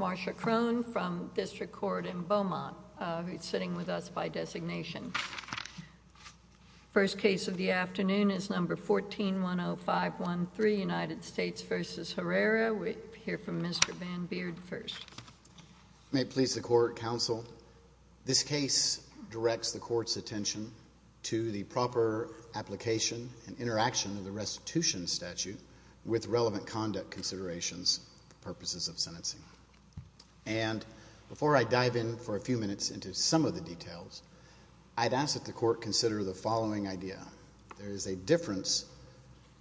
Marsha Crone from District Court in Beaumont who's sitting with us by designation. First case of the afternoon is number 1410513 United States v. Herrera. We hear from Mr. Van Beard first. May it please the court counsel this case directs the court's attention to the proper application and interaction of the restitution statute with relevant conduct considerations, purposes of sentencing. And before I dive in for a few minutes into some of the details, I'd ask that the court consider the following idea. There is a difference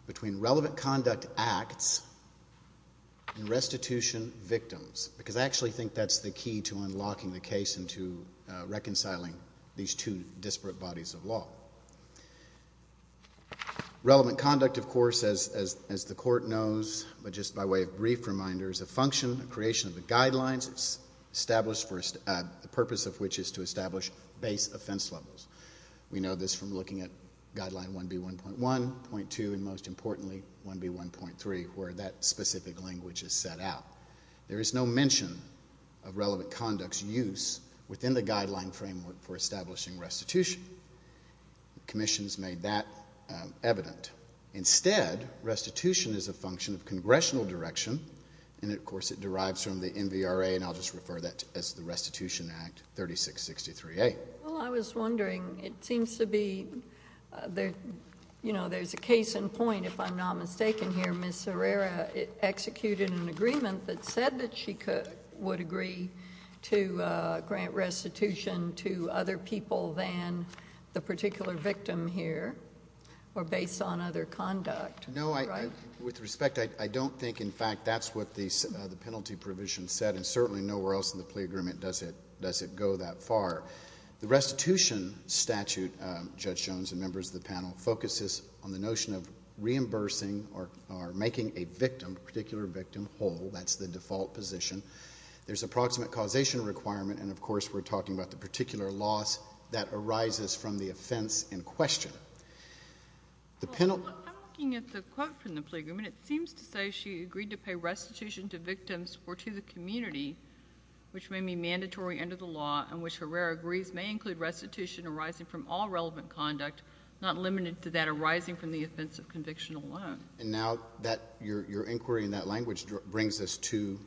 between relevant conduct acts and restitution victims because I actually think that's the key to unlocking the case into reconciling these two disparate bodies of law. Relevant conduct, of course, as the court knows, but just by way of brief reminders, a function, a creation of the guidelines, the purpose of which is to establish base offense levels. We know this from looking at guideline 1B1.1, 1.2, and most importantly 1B1.3 where that specific language is set out. There is no mention of relevant conduct's use within the guideline framework for establishing restitution. The Commission has made that evident. Instead, restitution is a function of congressional direction and, of course, it derives from the NVRA and I'll just refer that as the Restitution Act 3663A. Well, I was wondering, it seems to be, you know, there's a case in point if I'm not mistaken here. Ms. Herrera executed an agreement that said that she would agree to grant restitution to other people than the particular victim here or based on other conduct. No, with respect, I don't think, in fact, that's what the penalty provision said and certainly nowhere else in the plea agreement does it go that far. The restitution statute, Judge Jones and members of the panel, focuses on the notion of reimbursing or making a victim, a particular victim, whole. That's the default position. There's approximate causation requirement and, of course, we're talking about the particular loss that arises from the offense in question. I'm looking at the quote from the plea agreement. It seems to say she agreed to pay restitution to victims or to the community which may be mandatory under the law and which Herrera agrees may include restitution arising from all relevant conduct, not limited to that arising from the offense of conviction alone. And now your inquiry in that language brings us to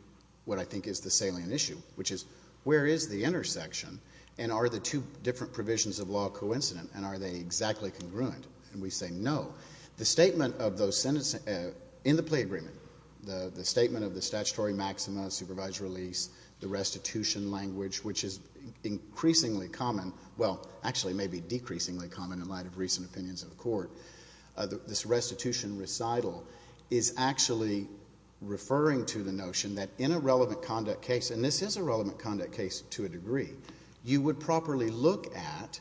what I think is the salient issue, which is where is the intersection and are the two different provisions of law coincident and are they exactly congruent? And we say no. The statement of those sentences in the plea agreement, the statement of the statutory maxima, supervised release, the restitution language, which is increasingly common, well, actually maybe decreasingly common in light of recent opinions of the Court, this restitution recital is actually referring to the notion that in a relevant conduct case, and this is a relevant conduct case to a degree, you would properly look at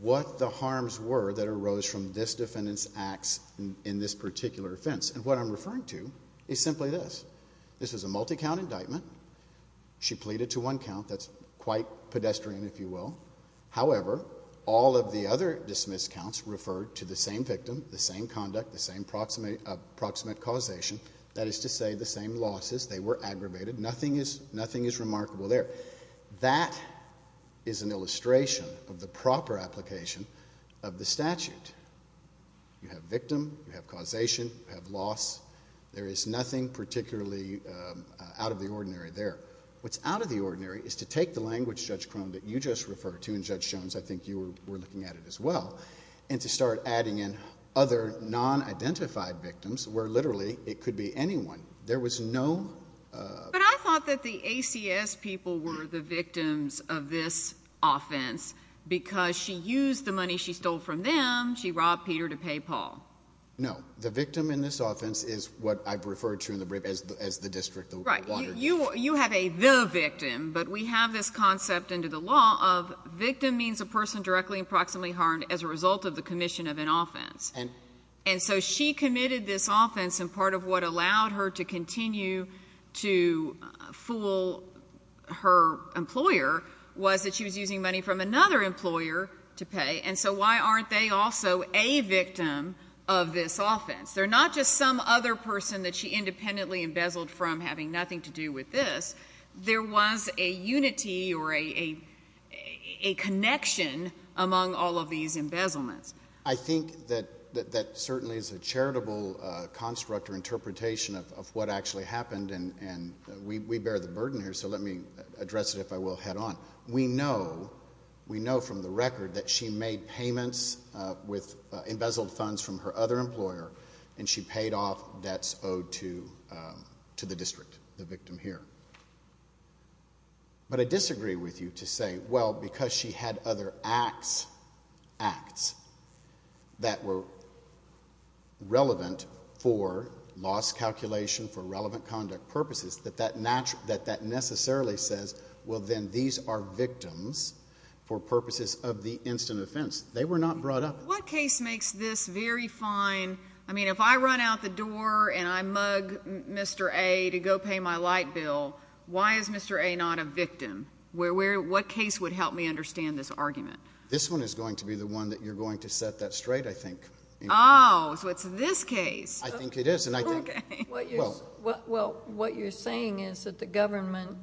what the harms were that arose from this defendant's acts in this particular offense. And what I'm referring to is simply this. This is a multi-count indictment. She pleaded to one count. That's quite pedestrian, if you will. However, all of the other dismissed counts refer to the same victim, the same conduct, the same proximate causation, that is to say the same losses. They were aggravated. Nothing is remarkable there. That is an illustration of the proper application of the statute. You have victim, you have causation, you have loss. There is nothing particularly out of the judge Jones, I think you were looking at it as well, and to start adding in other non-identified victims where literally it could be anyone. There was no... But I thought that the ACS people were the victims of this offense because she used the money she stole from them. She robbed Peter to pay Paul. No. The victim in this offense is what I've referred to in the brief as the district. Right. You have a the victim, but we have this concept into the law of victim means a person directly and proximately harmed as a result of the commission of an offense. And so she committed this offense and part of what allowed her to continue to fool her employer was that she was using money from another employer to pay. And so why aren't they also a victim of this offense? They're not just some other person that she independently embezzled from having nothing to do with this. There was a unity or a connection among all of these embezzlements. I think that certainly is a charitable construct or interpretation of what actually happened, and we bear the burden here, so let me address it if I will head on. We know from the record that she made payments with embezzled funds from her other employer, and she paid off debts owed to the district, the victim here. But I disagree with you to say, well, because she had other acts that were relevant for loss calculation, for relevant conduct purposes, that necessarily says, well, then these are victims for purposes of the instant offense. They were not brought up. What case makes this very fine? I mean, if I run out the door and I mug Mr. A to go pay my light bill, why is Mr. A not a victim? What case would help me understand this argument? This one is going to be the one that you're going to set that straight, I think. Oh, so it's this case. I think it is. Okay. Well, what you're saying is that the government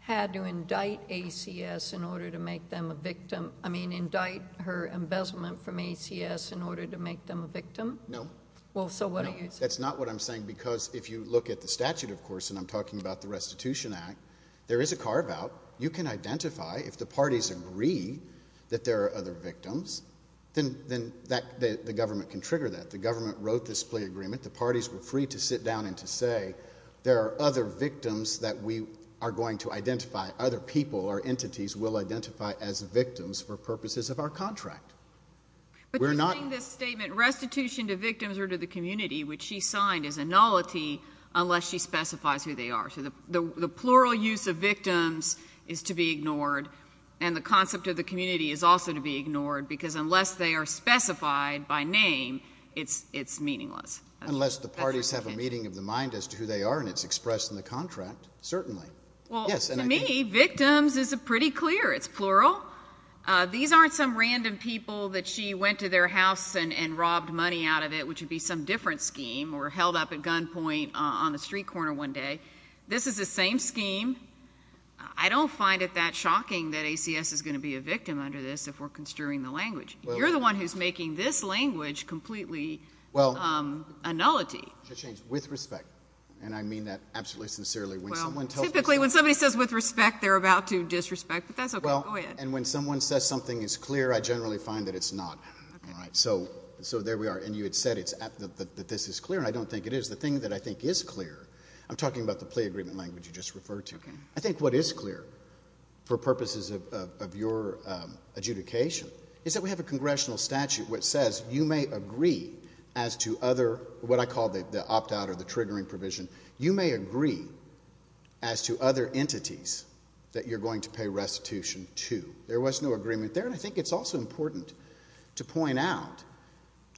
had to indict ACS in order to make them a victim? I mean, indict her embezzlement from ACS in order to make them a victim? No. Well, so what are you saying? That's not what I'm saying, because if you look at the statute, of course, and I'm talking about the Restitution Act, there is a carve-out. You can identify if the parties agree that there are other victims, then the government can trigger that. The government wrote this plea agreement. The parties agreed to sit down and to say there are other victims that we are going to identify. Other people or entities will identify as victims for purposes of our contract. But you're saying this statement, restitution to victims or to the community, which she signed, is a nullity unless she specifies who they are. So the plural use of victims is to be ignored, and the concept of the community is also to be ignored, because unless they are specified by name, it's meaningless. Unless the parties have a meeting of the mind as to who they are, and it's expressed in the contract, certainly. Well, to me, victims is pretty clear. It's plural. These aren't some random people that she went to their house and robbed money out of it, which would be some different scheme, or held up at gunpoint on the street corner one day. This is the same scheme. I don't find it that shocking that ACS is going to be a victim under this if we're construing the language. You're the one who's making this language completely a nullity. With respect, and I mean that absolutely sincerely. Well, typically when somebody says with respect, they're about to disrespect, but that's okay. Go ahead. And when someone says something is clear, I generally find that it's not. So there we are. And you had said that this is clear, and I don't think it is. The thing that I think is clear, I'm talking about the plea agreement language you just referred to. I think what is clear, for purposes of your adjudication, is that we have a congressional statute which says you may agree as to other, what I call the opt-out or the triggering provision, you may agree as to other entities that you're going to pay restitution to. There was no agreement there, and I think it's also important to point out,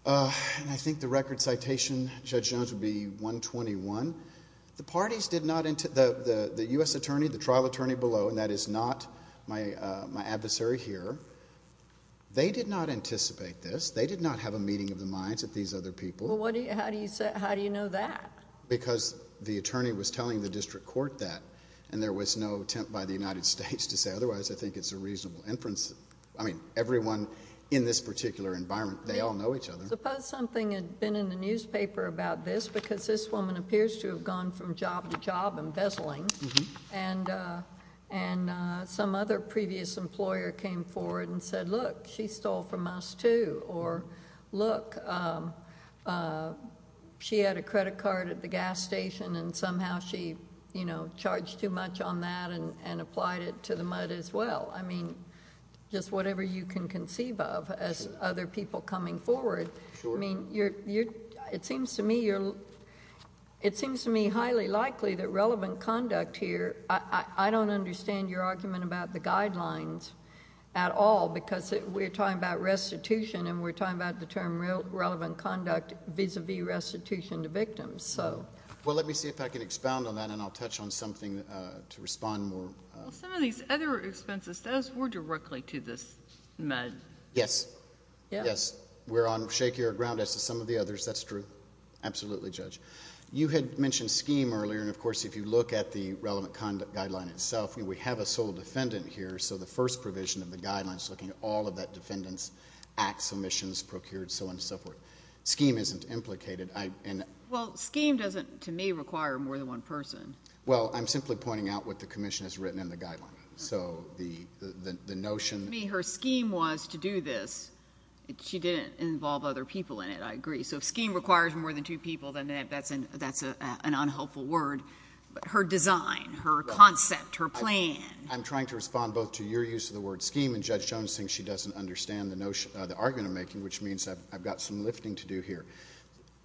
and I think the record citation, Judge Jones, would be 121, the parties did not, the U.S. attorney, the trial attorney below, and that is not my adversary here, they did not anticipate this. They did not have a meeting of the minds of these other people. Well, how do you know that? Because the attorney was telling the district court that, and there was no attempt by the United States to say otherwise. I think it's a reasonable inference. I mean, everyone in this particular environment, they all know each other. Suppose something had been in the newspaper about this because this woman appears to have come from job to job embezzling, and some other previous employer came forward and said, look, she stole from us too, or, look, she had a credit card at the gas station and somehow she, you know, charged too much on that and applied it to the mud as well. I mean, just whatever you can conceive of as other people coming forward. Sure. I mean, it seems to me highly likely that relevant conduct here, I don't understand your argument about the guidelines at all, because we're talking about restitution, and we're talking about the term relevant conduct vis-a-vis restitution to victims, so. Well, let me see if I can expound on that, and I'll touch on something to respond more. Some of these other expenses, those were directly to this mud. Yes. Yes. We're on shakier ground as to some of the others, that's true. Absolutely, Judge. You had mentioned scheme earlier, and, of course, if you look at the relevant conduct guideline itself, we have a sole defendant here, so the first provision of the guideline is looking at all of that defendant's acts, omissions, procured, so on and so forth. Scheme isn't implicated. Well, scheme doesn't, to me, require more than one person. Well, I'm simply pointing out what the commission has written in the guideline, so the notion. Her scheme was to do this. She didn't involve other people in it, I agree. So if scheme requires more than two people, then that's an unhelpful word. But her design, her concept, her plan. I'm trying to respond both to your use of the word scheme, and Judge Jones thinks she doesn't understand the notion, the argument I'm making, which means I've got some lifting to do here.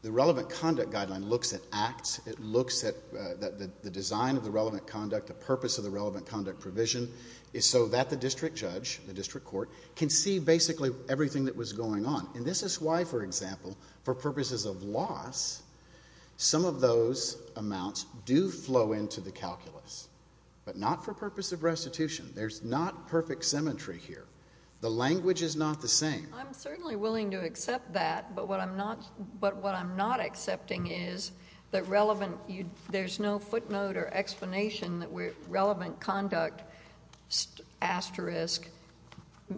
The relevant conduct guideline looks at acts, it looks at the design of the relevant conduct, the purpose of the relevant conduct provision, so that the district judge, the district court, can see basically everything that was going on. And this is why, for example, for purposes of loss, some of those amounts do flow into the calculus, but not for purpose of restitution. There's not perfect symmetry here. The language is not the same. I'm certainly willing to accept that, but what I'm not, but what I'm not accepting is that relevant, there's no footnote or explanation that relevant conduct asterisk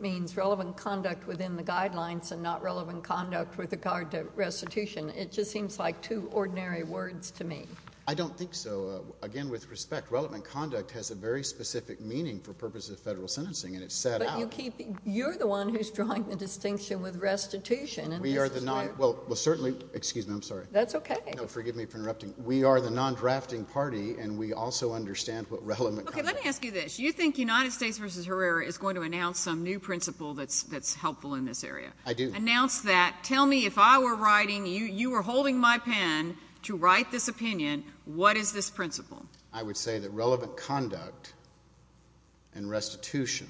means relevant conduct within the guidelines, and not relevant conduct with regard to restitution. It just seems like two ordinary words to me. I don't think so. Again, with respect, relevant conduct has a very specific meaning for purposes of federal sentencing, and it's set out. But you keep, you're the one who's drawing the distinction with restitution. We are the non, well, certainly, excuse me, I'm sorry. That's okay. No, forgive me for interrupting. We are the non-drafting party, and we also understand what relevant conduct. Okay, let me ask you this. You think United States v. Herrera is going to announce some new principle that's helpful in this area. I do. Announce that. Tell me, if I were writing, you were holding my pen to write this opinion, what is this principle? I would say that relevant conduct and restitution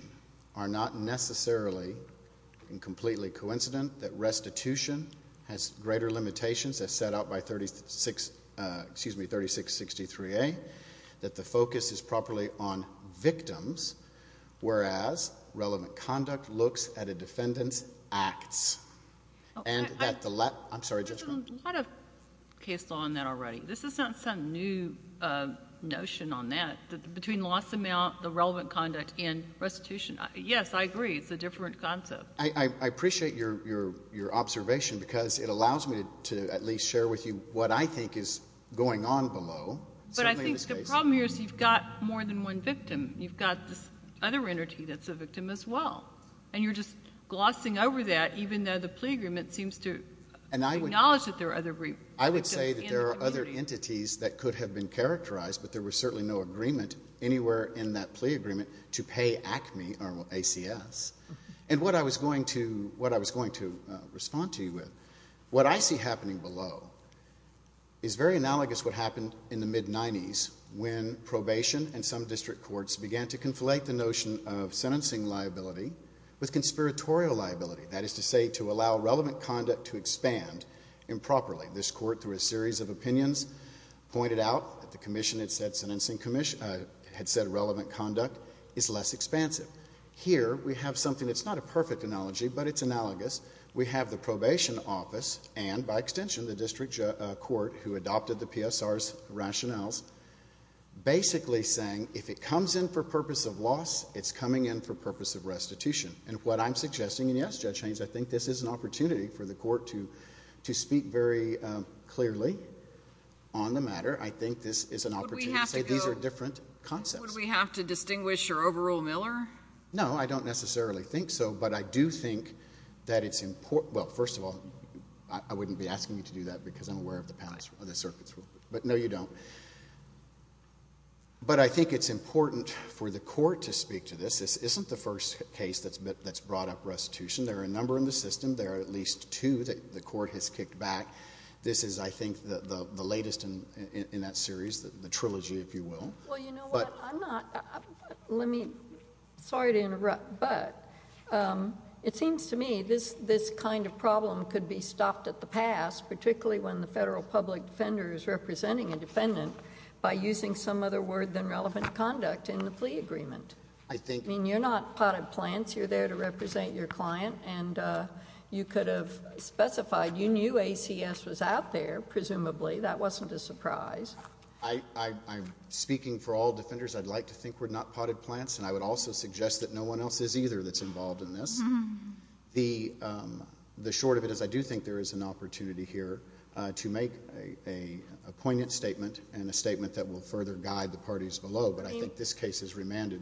are not necessarily and completely coincident that restitution has greater limitations as set out by 36, excuse me, 3663A, that the focus is properly on victims, whereas relevant conduct looks at a defendant's acts. And that the, I'm sorry, Judge Brown. There's a lot of case law on that already. This is not some new notion on that. Between loss of mail, the relevant conduct, and restitution. Yes, I agree. It's a different concept. I appreciate your observation because it allows me to at least share with you what I think is going on below. But I think the problem here is you've got more than one victim. You've got this other entity that's a victim as well. And you're just glossing over that even though the plea agreement seems to acknowledge that there are other victims in the community. I would say that there are other entities that could have been characterized, but there was certainly no agreement anywhere in that plea agreement to pay ACME or ACS. And what I was going to respond to you with, what I see happening below is very analogous to what happened in the mid-'90s when probation and some district courts began to conflate the notion of sentencing liability with conspiratorial liability. That is to say, to allow relevant conduct to expand improperly. This court, through a series of opinions, pointed out that the commission had said relevant conduct is less expansive. Here, we have something that's not a perfect analogy, but it's analogous. We have the probation office and, by extension, the district court who adopted the PSR's rationales basically saying if it comes in for purpose of loss, it's coming in for purpose of restitution. And what I'm suggesting, and yes, Judge Haynes, I think this is an opportunity for the court to speak very clearly on the matter. I think this is an opportunity to say these are different concepts. So would we have to distinguish or overrule Miller? No, I don't necessarily think so. But I do think that it's important, well, first of all, I wouldn't be asking you to do that because I'm aware of the circuit's rules, but no, you don't. But I think it's important for the court to speak to this. This isn't the first case that's brought up restitution. There are a number in the system. There are at least two that the court has kicked back. This is, I think, the latest in that series, the trilogy, if you will. Well, you know what? I'm not... let me... sorry to interrupt, but it seems to me this kind of problem could be stopped at the pass, particularly when the federal public defender is representing a defendant by using some other word than relevant conduct in the plea agreement. I mean, you're not potted plants. You're there to represent your client and you could have specified. You knew ACS was out there, presumably. That wasn't a surprise. I'm speaking for all defenders. I'd like to think we're not potted plants and I would also suggest that no one else is either that's involved in this. The short of it is I do think there is an opportunity here to make a poignant statement and a statement that will further guide the parties below, but I think this case is remanded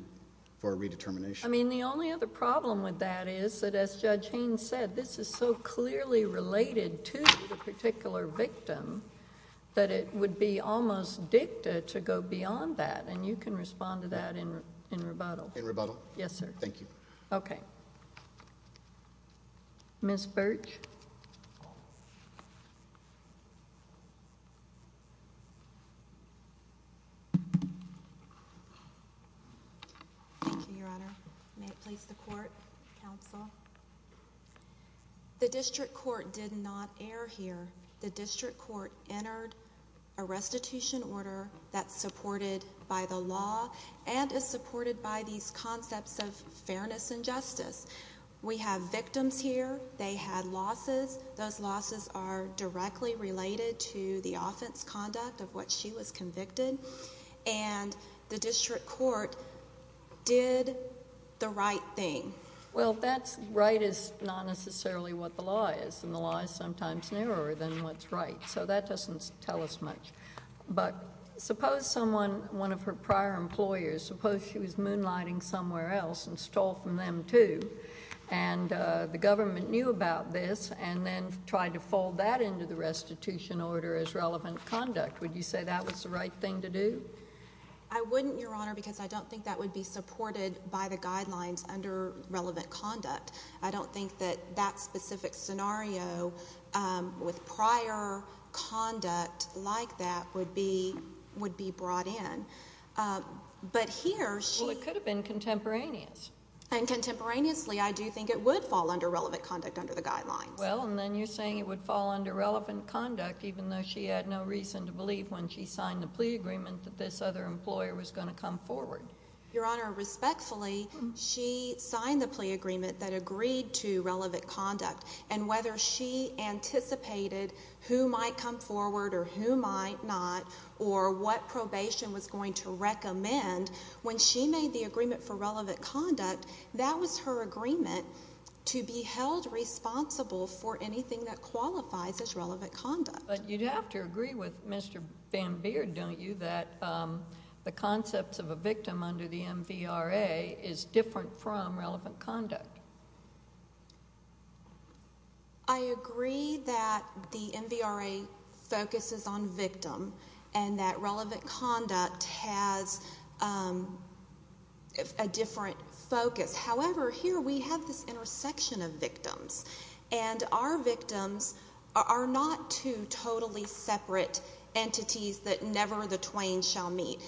for a redetermination. I mean, the only other problem with that is that as Judge Haynes said, this is so clearly related to the particular victim that it would be almost dicta to go beyond that and you can respond to that in rebuttal. In rebuttal? Yes, sir. Thank you. Okay. Ms. Birch? Thank you, Your Honor. May it please the court, counsel. The district court did not err here. The district court entered a restitution order that's supported by the law and is supported by these concepts of fairness and justice. We have victims here. They had losses. Those losses are directly related to the offense conduct of what she was convicted and the district court did the right thing. Well, that's right is not necessarily what the law is and the law is sometimes narrower than what's right, so that doesn't tell us much, but suppose someone, one of her prior employers, suppose she was moonlighting somewhere else and stole from them too and the government knew about this and then tried to fold that into the restitution order as relevant conduct. Would you say that was the right thing to do? I wouldn't, Your Honor, because I don't think that would be supported by the guidelines under relevant conduct. I don't think that that specific scenario with prior conduct like that would be brought in, but here she... Well, it could have been contemporaneous. And contemporaneously, I do think it would fall under relevant conduct under the guidelines. Well, and then you're saying it would fall under relevant conduct even though she had no reason to believe when she signed the plea agreement that this other employer was going to come forward? Your Honor, respectfully, she signed the plea agreement that agreed to relevant conduct and whether she anticipated who might come forward or who might not or what probation was going to recommend, when she made the agreement for relevant conduct, that was her agreement to be held responsible for anything that qualifies as relevant conduct. But you'd have to agree with Mr. Bambeer, don't you, that the concepts of a victim under the MVRA is different from relevant conduct? I agree that the MVRA focuses on victim and that relevant conduct has a different focus. However, here we have this intersection of victims and our victims are not two totally separate entities that never the twain shall meet.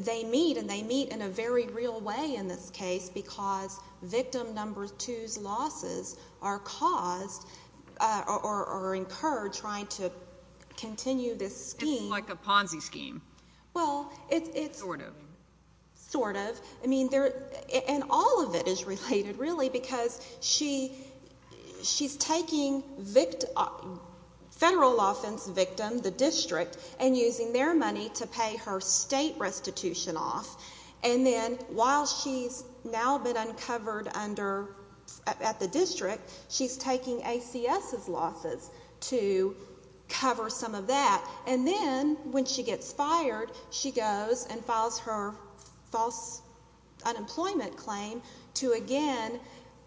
They meet and they meet in a very real way in this case because victim number two's losses are caused or incurred trying to continue this scheme. It's like a Ponzi scheme. Well, it's... Sort of. Sort of. I mean, and all of it is related really because she's taking federal offense victim, the district, and using their money to pay her state restitution off, and then while she's now been uncovered at the district, she's taking ACS's losses to cover some of that. And then when she gets fired, she goes and files her false unemployment claim to again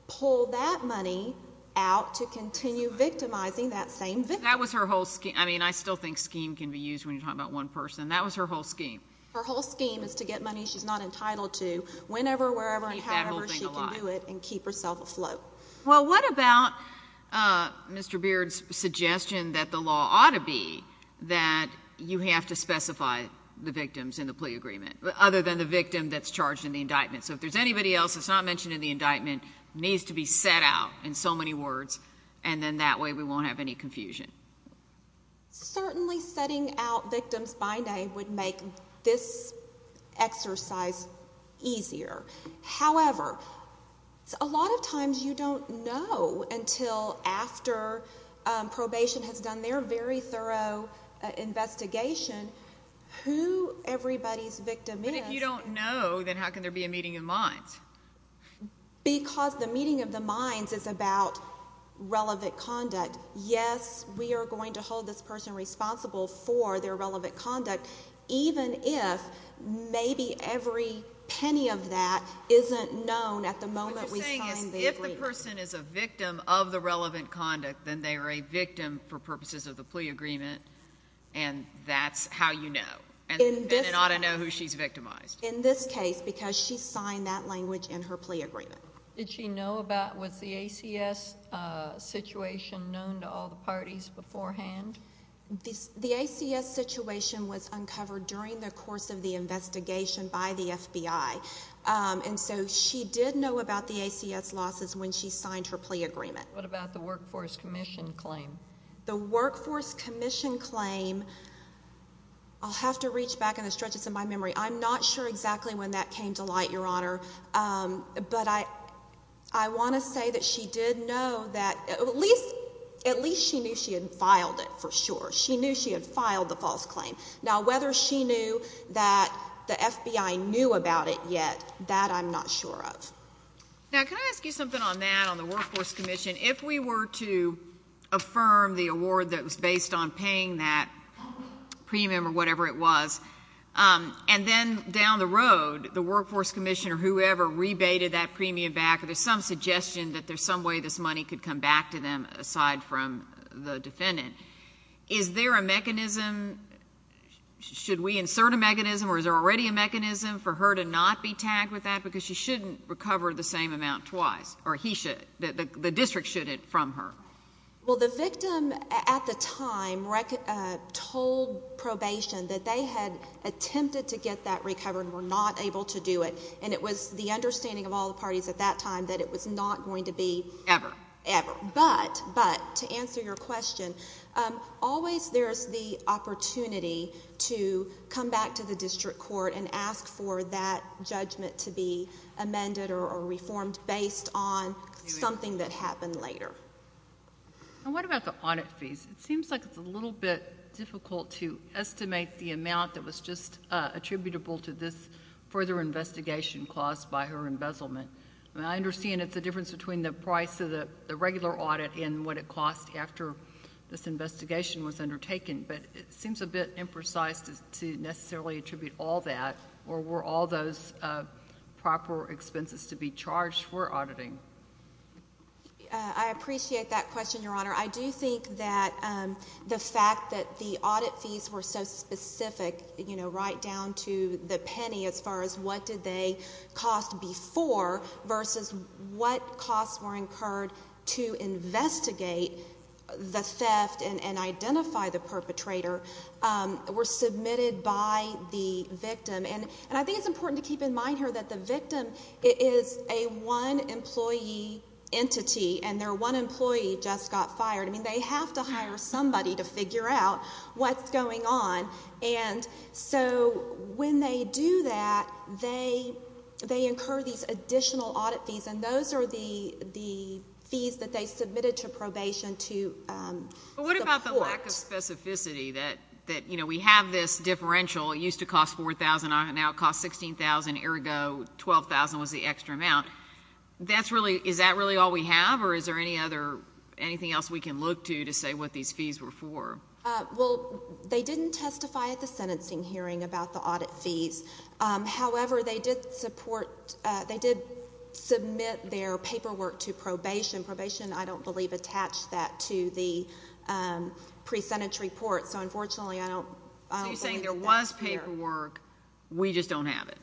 pull that money out to continue victimizing that same victim. That was her whole scheme. I mean, I still think scheme can be used when you're talking about one person. That was her whole scheme. Her whole scheme is to get money she's not entitled to whenever, wherever, and however she can do it and keep herself afloat. Well, what about Mr. Beard's suggestion that the law ought to be that you have to specify the victims in the plea agreement other than the victim that's charged in the indictment? So if there's anybody else that's not mentioned in the indictment, it needs to be set out in so many words, and then that way we won't have any confusion. Certainly setting out victims by name would make this exercise easier. However, a lot of times you don't know until after probation has done their very thorough investigation who everybody's victim is. But if you don't know, then how can there be a meeting of minds? Because the meeting of the minds is about relevant conduct. Yes, we are going to hold this person responsible for their relevant conduct, even if maybe every penny of that isn't known at the moment we signed the agreement. What you're saying is if the person is a victim of the relevant conduct, then they are a victim for purposes of the plea agreement, and that's how you know, and it ought to know who she's victimized. In this case, because she signed that language in her plea agreement. Did she know about, was the ACS situation known to all the parties beforehand? The ACS situation was uncovered during the course of the investigation by the FBI, and so she did know about the ACS losses when she signed her plea agreement. What about the Workforce Commission claim? The Workforce Commission claim, I'll have to reach back in the stretches of my memory. I'm not sure exactly when that came to light, Your Honor, but I want to say that she did know that, at least she knew she had filed it for sure. She knew she had filed the false claim. Now, whether she knew that the FBI knew about it yet, that I'm not sure of. Now, can I ask you something on that, on the Workforce Commission? If we were to affirm the award that was based on paying that premium or whatever it was, and then down the road, the Workforce Commission or whoever rebated that premium back, or there's some suggestion that there's some way this money could come back to them aside from the defendant, is there a mechanism, should we insert a mechanism, or is there already a mechanism for her to not be tagged with that? Because she shouldn't recover the same amount twice, or he should, the district should from her. Well, the victim at the time told probation that they had attempted to get that recovered and were not able to do it, and it was the understanding of all the parties at that time that it was not going to be... Ever? Ever. But, to answer your question, always there's the opportunity to come back to the district court and ask for that judgment to be amended or reformed based on something that happened later. And what about the audit fees? It seems like it's a little bit difficult to estimate the amount that was just attributable to this further investigation caused by her embezzlement. I mean, I understand it's the difference between the price of the regular audit and what it cost after this investigation was undertaken, but it seems a bit imprecise to necessarily attribute all that, or were all those proper expenses to be charged for auditing? I appreciate that question, Your Honor. I do think that the fact that the audit fees were so specific, you know, right down to the penny as far as what did they cost before versus what costs were incurred to investigate the theft and identify the perpetrator, were submitted by the victim. And I think it's important to keep in mind here that the victim is a one employee entity, and their one employee just got fired. I mean, they have to hire somebody to figure out what's going on. And so when they do that, they incur these additional audit fees, and those are the fees that they submitted to probation to the court. But what about the lack of specificity that, you know, we have this differential, it used to cost $4,000, now it costs $16,000, ergo $12,000 was the extra amount. Is that really all we have, or is there anything else we can look to to say what these fees were for? Well, they didn't testify at the sentencing hearing about the audit fees. However, they did support, they did submit their paperwork to probation. Probation, I don't believe, attached that to the pre-sentence report. So unfortunately, I don't think that's there. So you're saying there was paperwork, we just don't have it?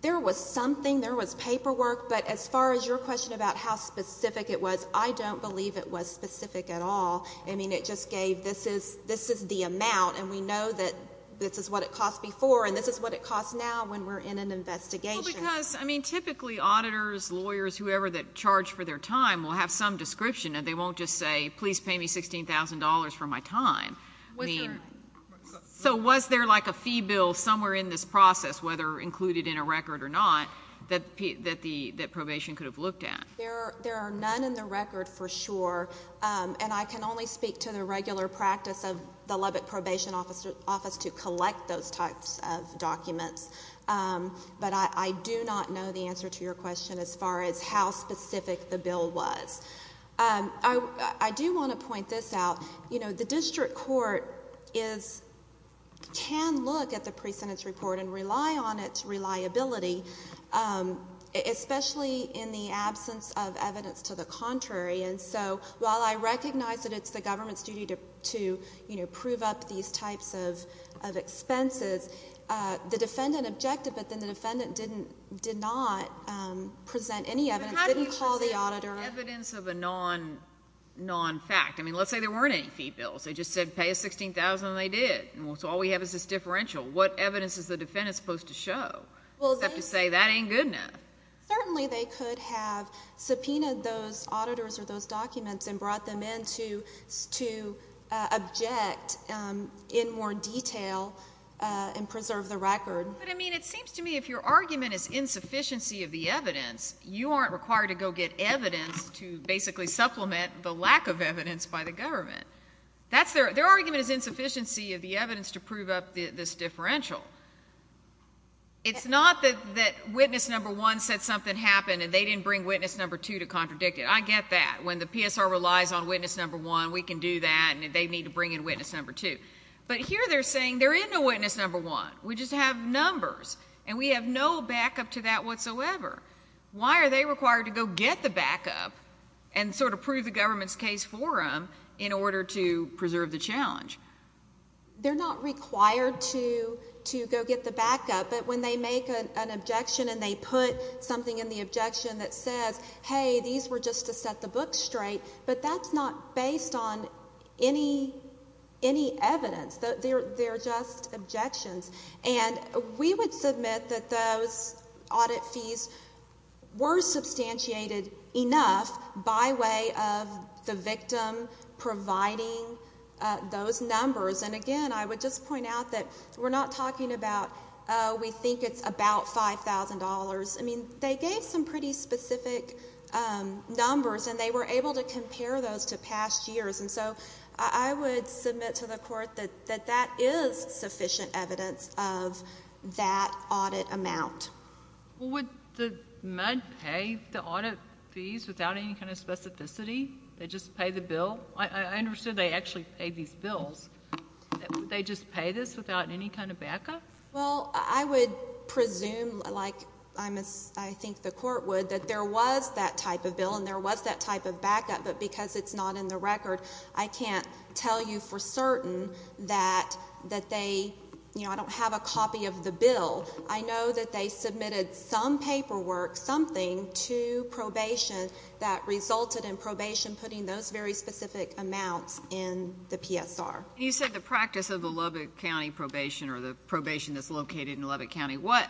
There was something, there was paperwork. But as far as your question about how specific it was, I don't believe it was specific at all. I mean, it just gave, this is the amount, and we know that this is what it cost before, and this is what it costs now when we're in an investigation. Well, because, I mean, typically auditors, lawyers, whoever that charged for their time will have some description, and they won't just say, please pay me $16,000 for my time. So was there like a fee bill somewhere in this process, whether included in a record or not, that probation could have looked at? There are none in the record for sure, and I can only speak to the regular practice of the Lubbock Probation Office to collect those types of documents. But I do not know the answer to your question as far as how specific the bill was. I do want to point this out. You know, the district court is, can look at the pre-sentence report and rely on its reliability, especially in the absence of evidence to the contrary. And so while I recognize that it's the government's duty to prove up these types of expenses, the defendant objected, but then the defendant did not present any evidence, didn't call the auditor... But how do you present evidence of a non-fact? I mean, let's say there weren't any fee bills. They just said, pay us $16,000, and they did. So all we have is this differential. What evidence is the defendant supposed to show, except to say that ain't good enough? Certainly, they could have subpoenaed those auditors or those documents and brought them in to object in more detail and preserve the record. But I mean, it seems to me if your argument is insufficiency of the evidence, you aren't required to go get evidence to basically supplement the lack of evidence by the government. Their argument is insufficiency of the evidence to prove up this differential. It's not that witness number one said something happened, and they didn't bring witness number two to contradict it. I get that. When the PSR relies on witness number one, we can do that, and they need to bring in witness number two. But here they're saying there is no witness number one. We just have numbers, and we have no backup to that whatsoever. Why are they required to go get the backup and sort of prove the government's forum in order to preserve the challenge? They're not required to go get the backup, but when they make an objection and they put something in the objection that says, hey, these were just to set the book straight, but that's not based on any evidence. They're just objections. We would submit that those audit fees were substantiated enough by way of the victim providing those numbers. And again, I would just point out that we're not talking about, oh, we think it's about $5,000. I mean, they gave some pretty specific numbers, and they were able to compare those to past years. And so I would submit to the court that that is sufficient evidence of that audit amount. Well, would the med pay the audit fees without any kind of specificity? They just pay the bill? I understand they actually pay these bills. Would they just pay this without any kind of backup? Well, I would presume, like I think the court would, that there was that type of bill, and there was that type of backup, but because it's not in the record, I can't tell you for certain that they, you know, I don't have a copy of the bill. I know that they submitted some paperwork, something, to probation that resulted in probation putting those very specific amounts in the PSR. And you said the practice of the Lubbock County probation or the probation that's located in Lubbock County, what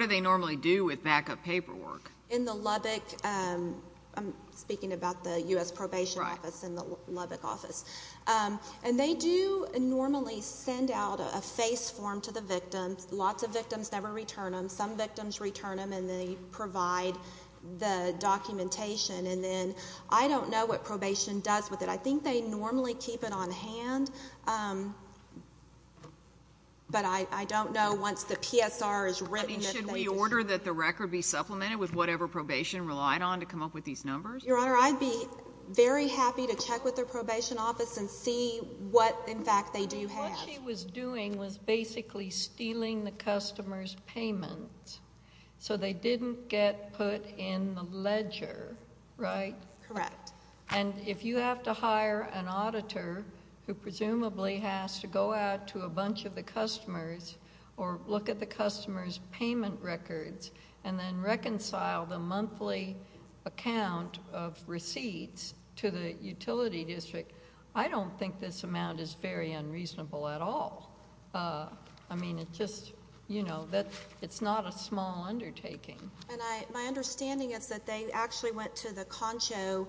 do they normally do with backup paperwork? In the Lubbock, I'm speaking about the U.S. Probation Office and the Lubbock office. And they do normally send out a face form to the victims. Lots of victims never return them. Some victims return them, and they provide the documentation. And then I don't know what probation does with it. I think they normally keep it on hand, but I don't know once the PSR is written, if they just— I mean, should we order that the record be supplemented with whatever probation relied on to come up with these numbers? Your Honor, I'd be very happy to check with the probation office and see what, in fact, they do have. What she was doing was basically stealing the customer's payment so they didn't get put in the ledger, right? Correct. And if you have to hire an auditor who presumably has to go out to a bunch of the customers or look at the customer's payment records and then reconcile the monthly account of receipts to the utility district, I don't think this amount is very unreasonable at all. I mean, it's just, you know, it's not a small undertaking. And my understanding is that they actually went to the Concho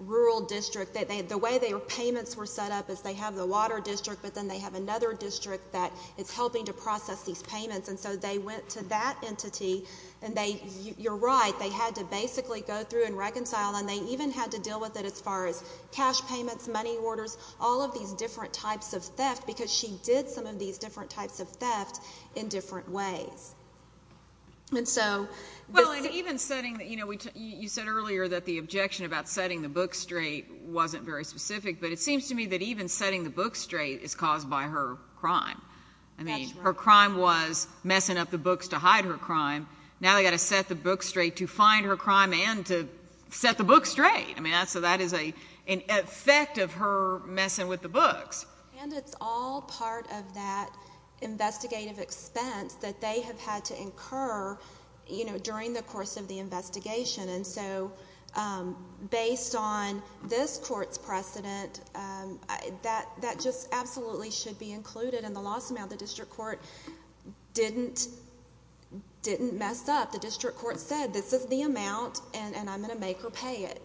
Rural District. The way their payments were set up is they have the water district, but then they have another district that is helping to process these payments, and so they went to that entity, and you're right, they had to basically go through and reconcile, and they even had to deal with it as far as cash payments, money orders, all of these different types of theft, because she did some of these different types of theft in different ways. And so— Well, and even setting, you know, you said earlier that the objection about setting the books straight wasn't very specific, but it seems to me that even setting the books straight is caused by her crime. I mean, her crime was messing up the books to hide her crime. Now they've got to set the books straight to find her crime and to set the books straight. I mean, so that is an effect of her messing with the books. And it's all part of that investigative expense that they have had to incur, you know, during the course of the investigation. And so based on this court's precedent, that just absolutely should be included in the loss amount. The district court didn't mess up. The district court said, this is the amount, and I'm going to make her pay it.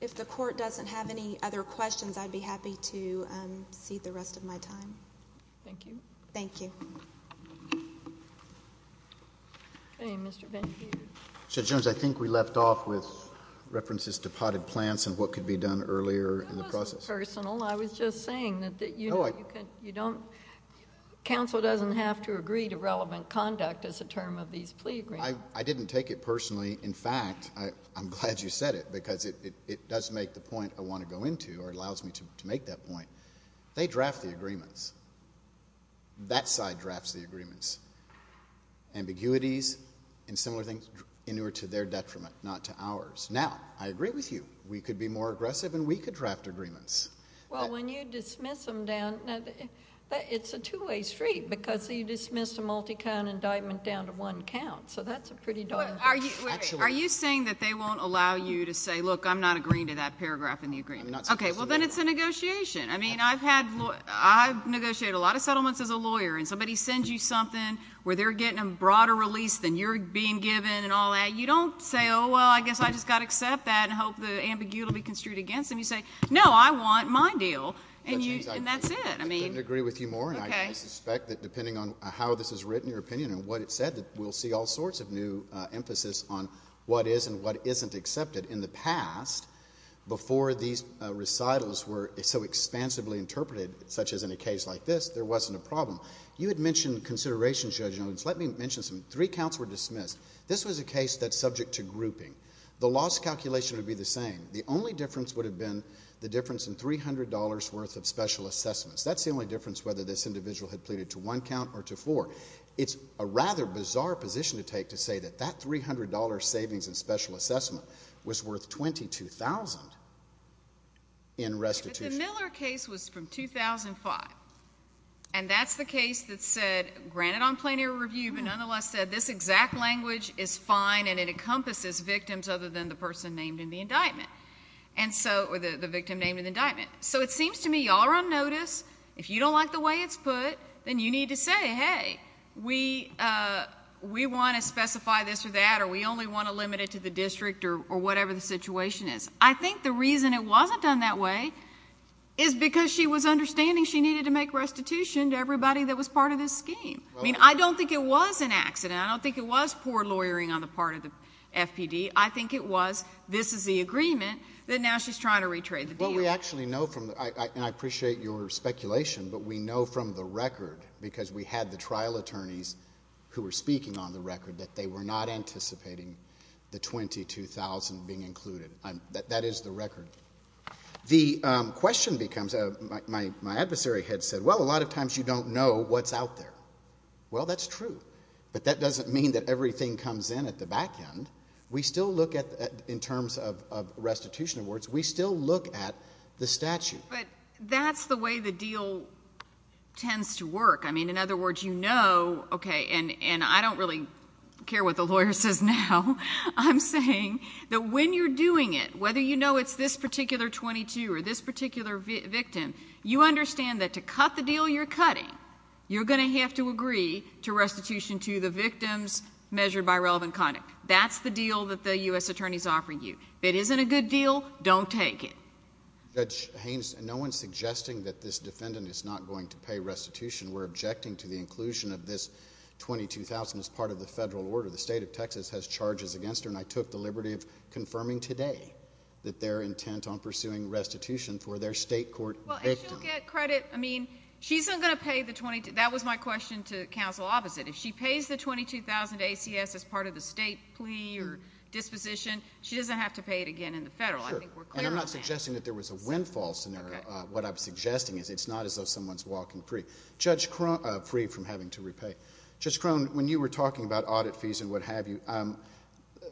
If the court doesn't have any other questions, I'd be happy to cede the rest of my time. Thank you. Thank you. Okay, Mr. Ben-Peter. Judge Jones, I think we left off with references to potted plants and what could be done earlier in the process. That wasn't personal. I was just saying that, you know, you don't— counsel doesn't have to agree to relevant conduct as a term of these plea agreements. I didn't take it personally. In fact, I'm glad you said it, because it does make the point I want to go into, or allows me to make that point. They draft the agreements. That side drafts the agreements. Ambiguities and similar things, in order to their detriment, not to ours. Now, I agree with you. We could be more aggressive, and we could draft agreements. Well, when you dismiss them down— it's a two-way street, because you dismiss a multi-count indictment down to one count, so that's a pretty darn thing. Are you saying that they won't allow you to say, look, I'm not agreeing to that paragraph in the agreement? Okay, well, then it's a negotiation. I mean, I've negotiated a lot of settlements as a lawyer, and somebody sends you something where they're getting a broader release than you're being given and all that. You don't say, oh, well, I guess I just got to accept that and hope the ambiguity will be construed against them. You say, no, I want my deal, and that's it. I didn't agree with you more, and I suspect that, depending on how this is written, your opinion and what it said, that we'll see all sorts of new emphasis on what is and what isn't accepted. In the past, before these recitals were so expansively interpreted, such as in a case like this, there wasn't a problem. You had mentioned consideration, Judge Owens. Let me mention something. Three counts were dismissed. This was a case that's subject to grouping. The loss calculation would be the same. The only difference would have been the difference in $300 worth of special assessments. That's the only difference whether this individual had pleaded to one count or to four. It's a rather bizarre position to take to say that that $300 savings in special assessment was worth $22,000 in restitution. But the Miller case was from 2005, and that's the case that said, granted on plenary review, but nonetheless said this exact language is fine and it encompasses victims other than the person named in the indictment, or the victim named in the indictment. So it seems to me you all are on notice. If you don't like the way it's put, then you need to say, hey, we want to specify this or that, or we only want to limit it to the district or whatever the situation is. I think the reason it wasn't done that way is because she was understanding she needed to make restitution to everybody that was part of this scheme. I mean, I don't think it was an accident. I don't think it was poor lawyering on the part of the FPD. I think it was, this is the agreement, that now she's trying to retrade the deal. Well, we actually know from, and I appreciate your speculation, but we know from the record, because we had the trial attorneys who were speaking on the record, that they were not anticipating the $22,000 being included. That is the record. The question becomes, my adversary had said, well, a lot of times you don't know what's out there. Well, that's true. But that doesn't mean that everything comes in at the back end. We still look at, in terms of restitution awards, we still look at the statute. But that's the way the deal tends to work. I mean, in other words, you know, okay, and I don't really care what the lawyer says now, I'm saying that when you're doing it, whether you know it's this particular 22 or this particular victim, you understand that to cut the deal you're cutting, you're going to have to agree to restitution to the victims measured by relevant conduct. That's the deal that the U.S. Attorney's offering you. If it isn't a good deal, don't take it. Judge Haynes, no one's suggesting that this defendant is not going to pay restitution. We're objecting to the inclusion of this $22,000 as part of the federal order. The state of Texas has charges against her, and I took the liberty of confirming today that they're intent on pursuing restitution for their state court victim. Well, and she'll get credit. I mean, she's not going to pay the $22,000. That was my question to counsel opposite. If she pays the $22,000 ACS as part of the state plea or disposition, she doesn't have to pay it again in the federal. Sure, and I'm not suggesting that there was a windfall scenario. What I'm suggesting is it's not as though someone's walking free from having to repay. Judge Crone, when you were talking about audit fees and what have you,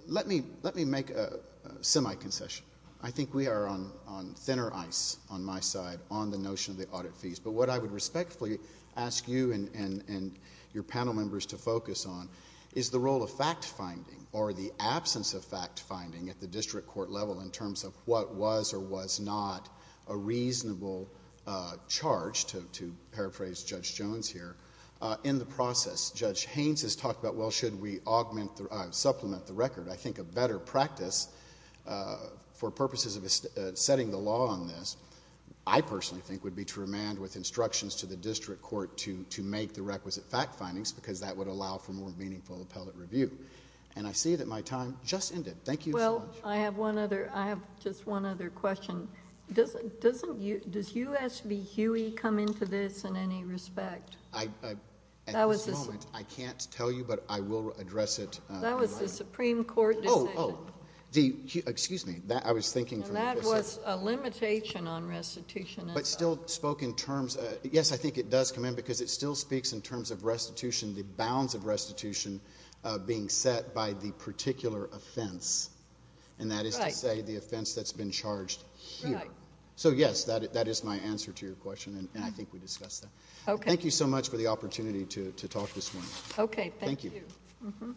let me make a semi-concession. I think we are on thinner ice on my side on the notion of the audit fees, but what I would respectfully ask you and your panel members to focus on is the role of fact-finding or the absence of fact-finding at the district court level in terms of what was or was not a reasonable charge, to paraphrase Judge Jones here, in the process. Judge Haynes has talked about, well, should we supplement the record? I think a better practice for purposes of setting the law on this, I personally think, would be to remand with instructions to the district court to make the requisite fact-findings because that would allow for more meaningful appellate review. And I see that my time just ended. Thank you so much. Well, I have one other... I have just one other question. Does U.S. v. Huey come into this in any respect? At this moment, I can't tell you, but I will address it... Oh, excuse me. I was thinking... That was a limitation on restitution. But still spoke in terms... yes, I think it does come in because it still speaks in terms of restitution, the bounds of restitution being set by the particular offense, and that is to say the offense that's been charged here. So yes, that is my answer to your question, and I think we discussed that. Thank you so much for the opportunity to talk this morning. Okay.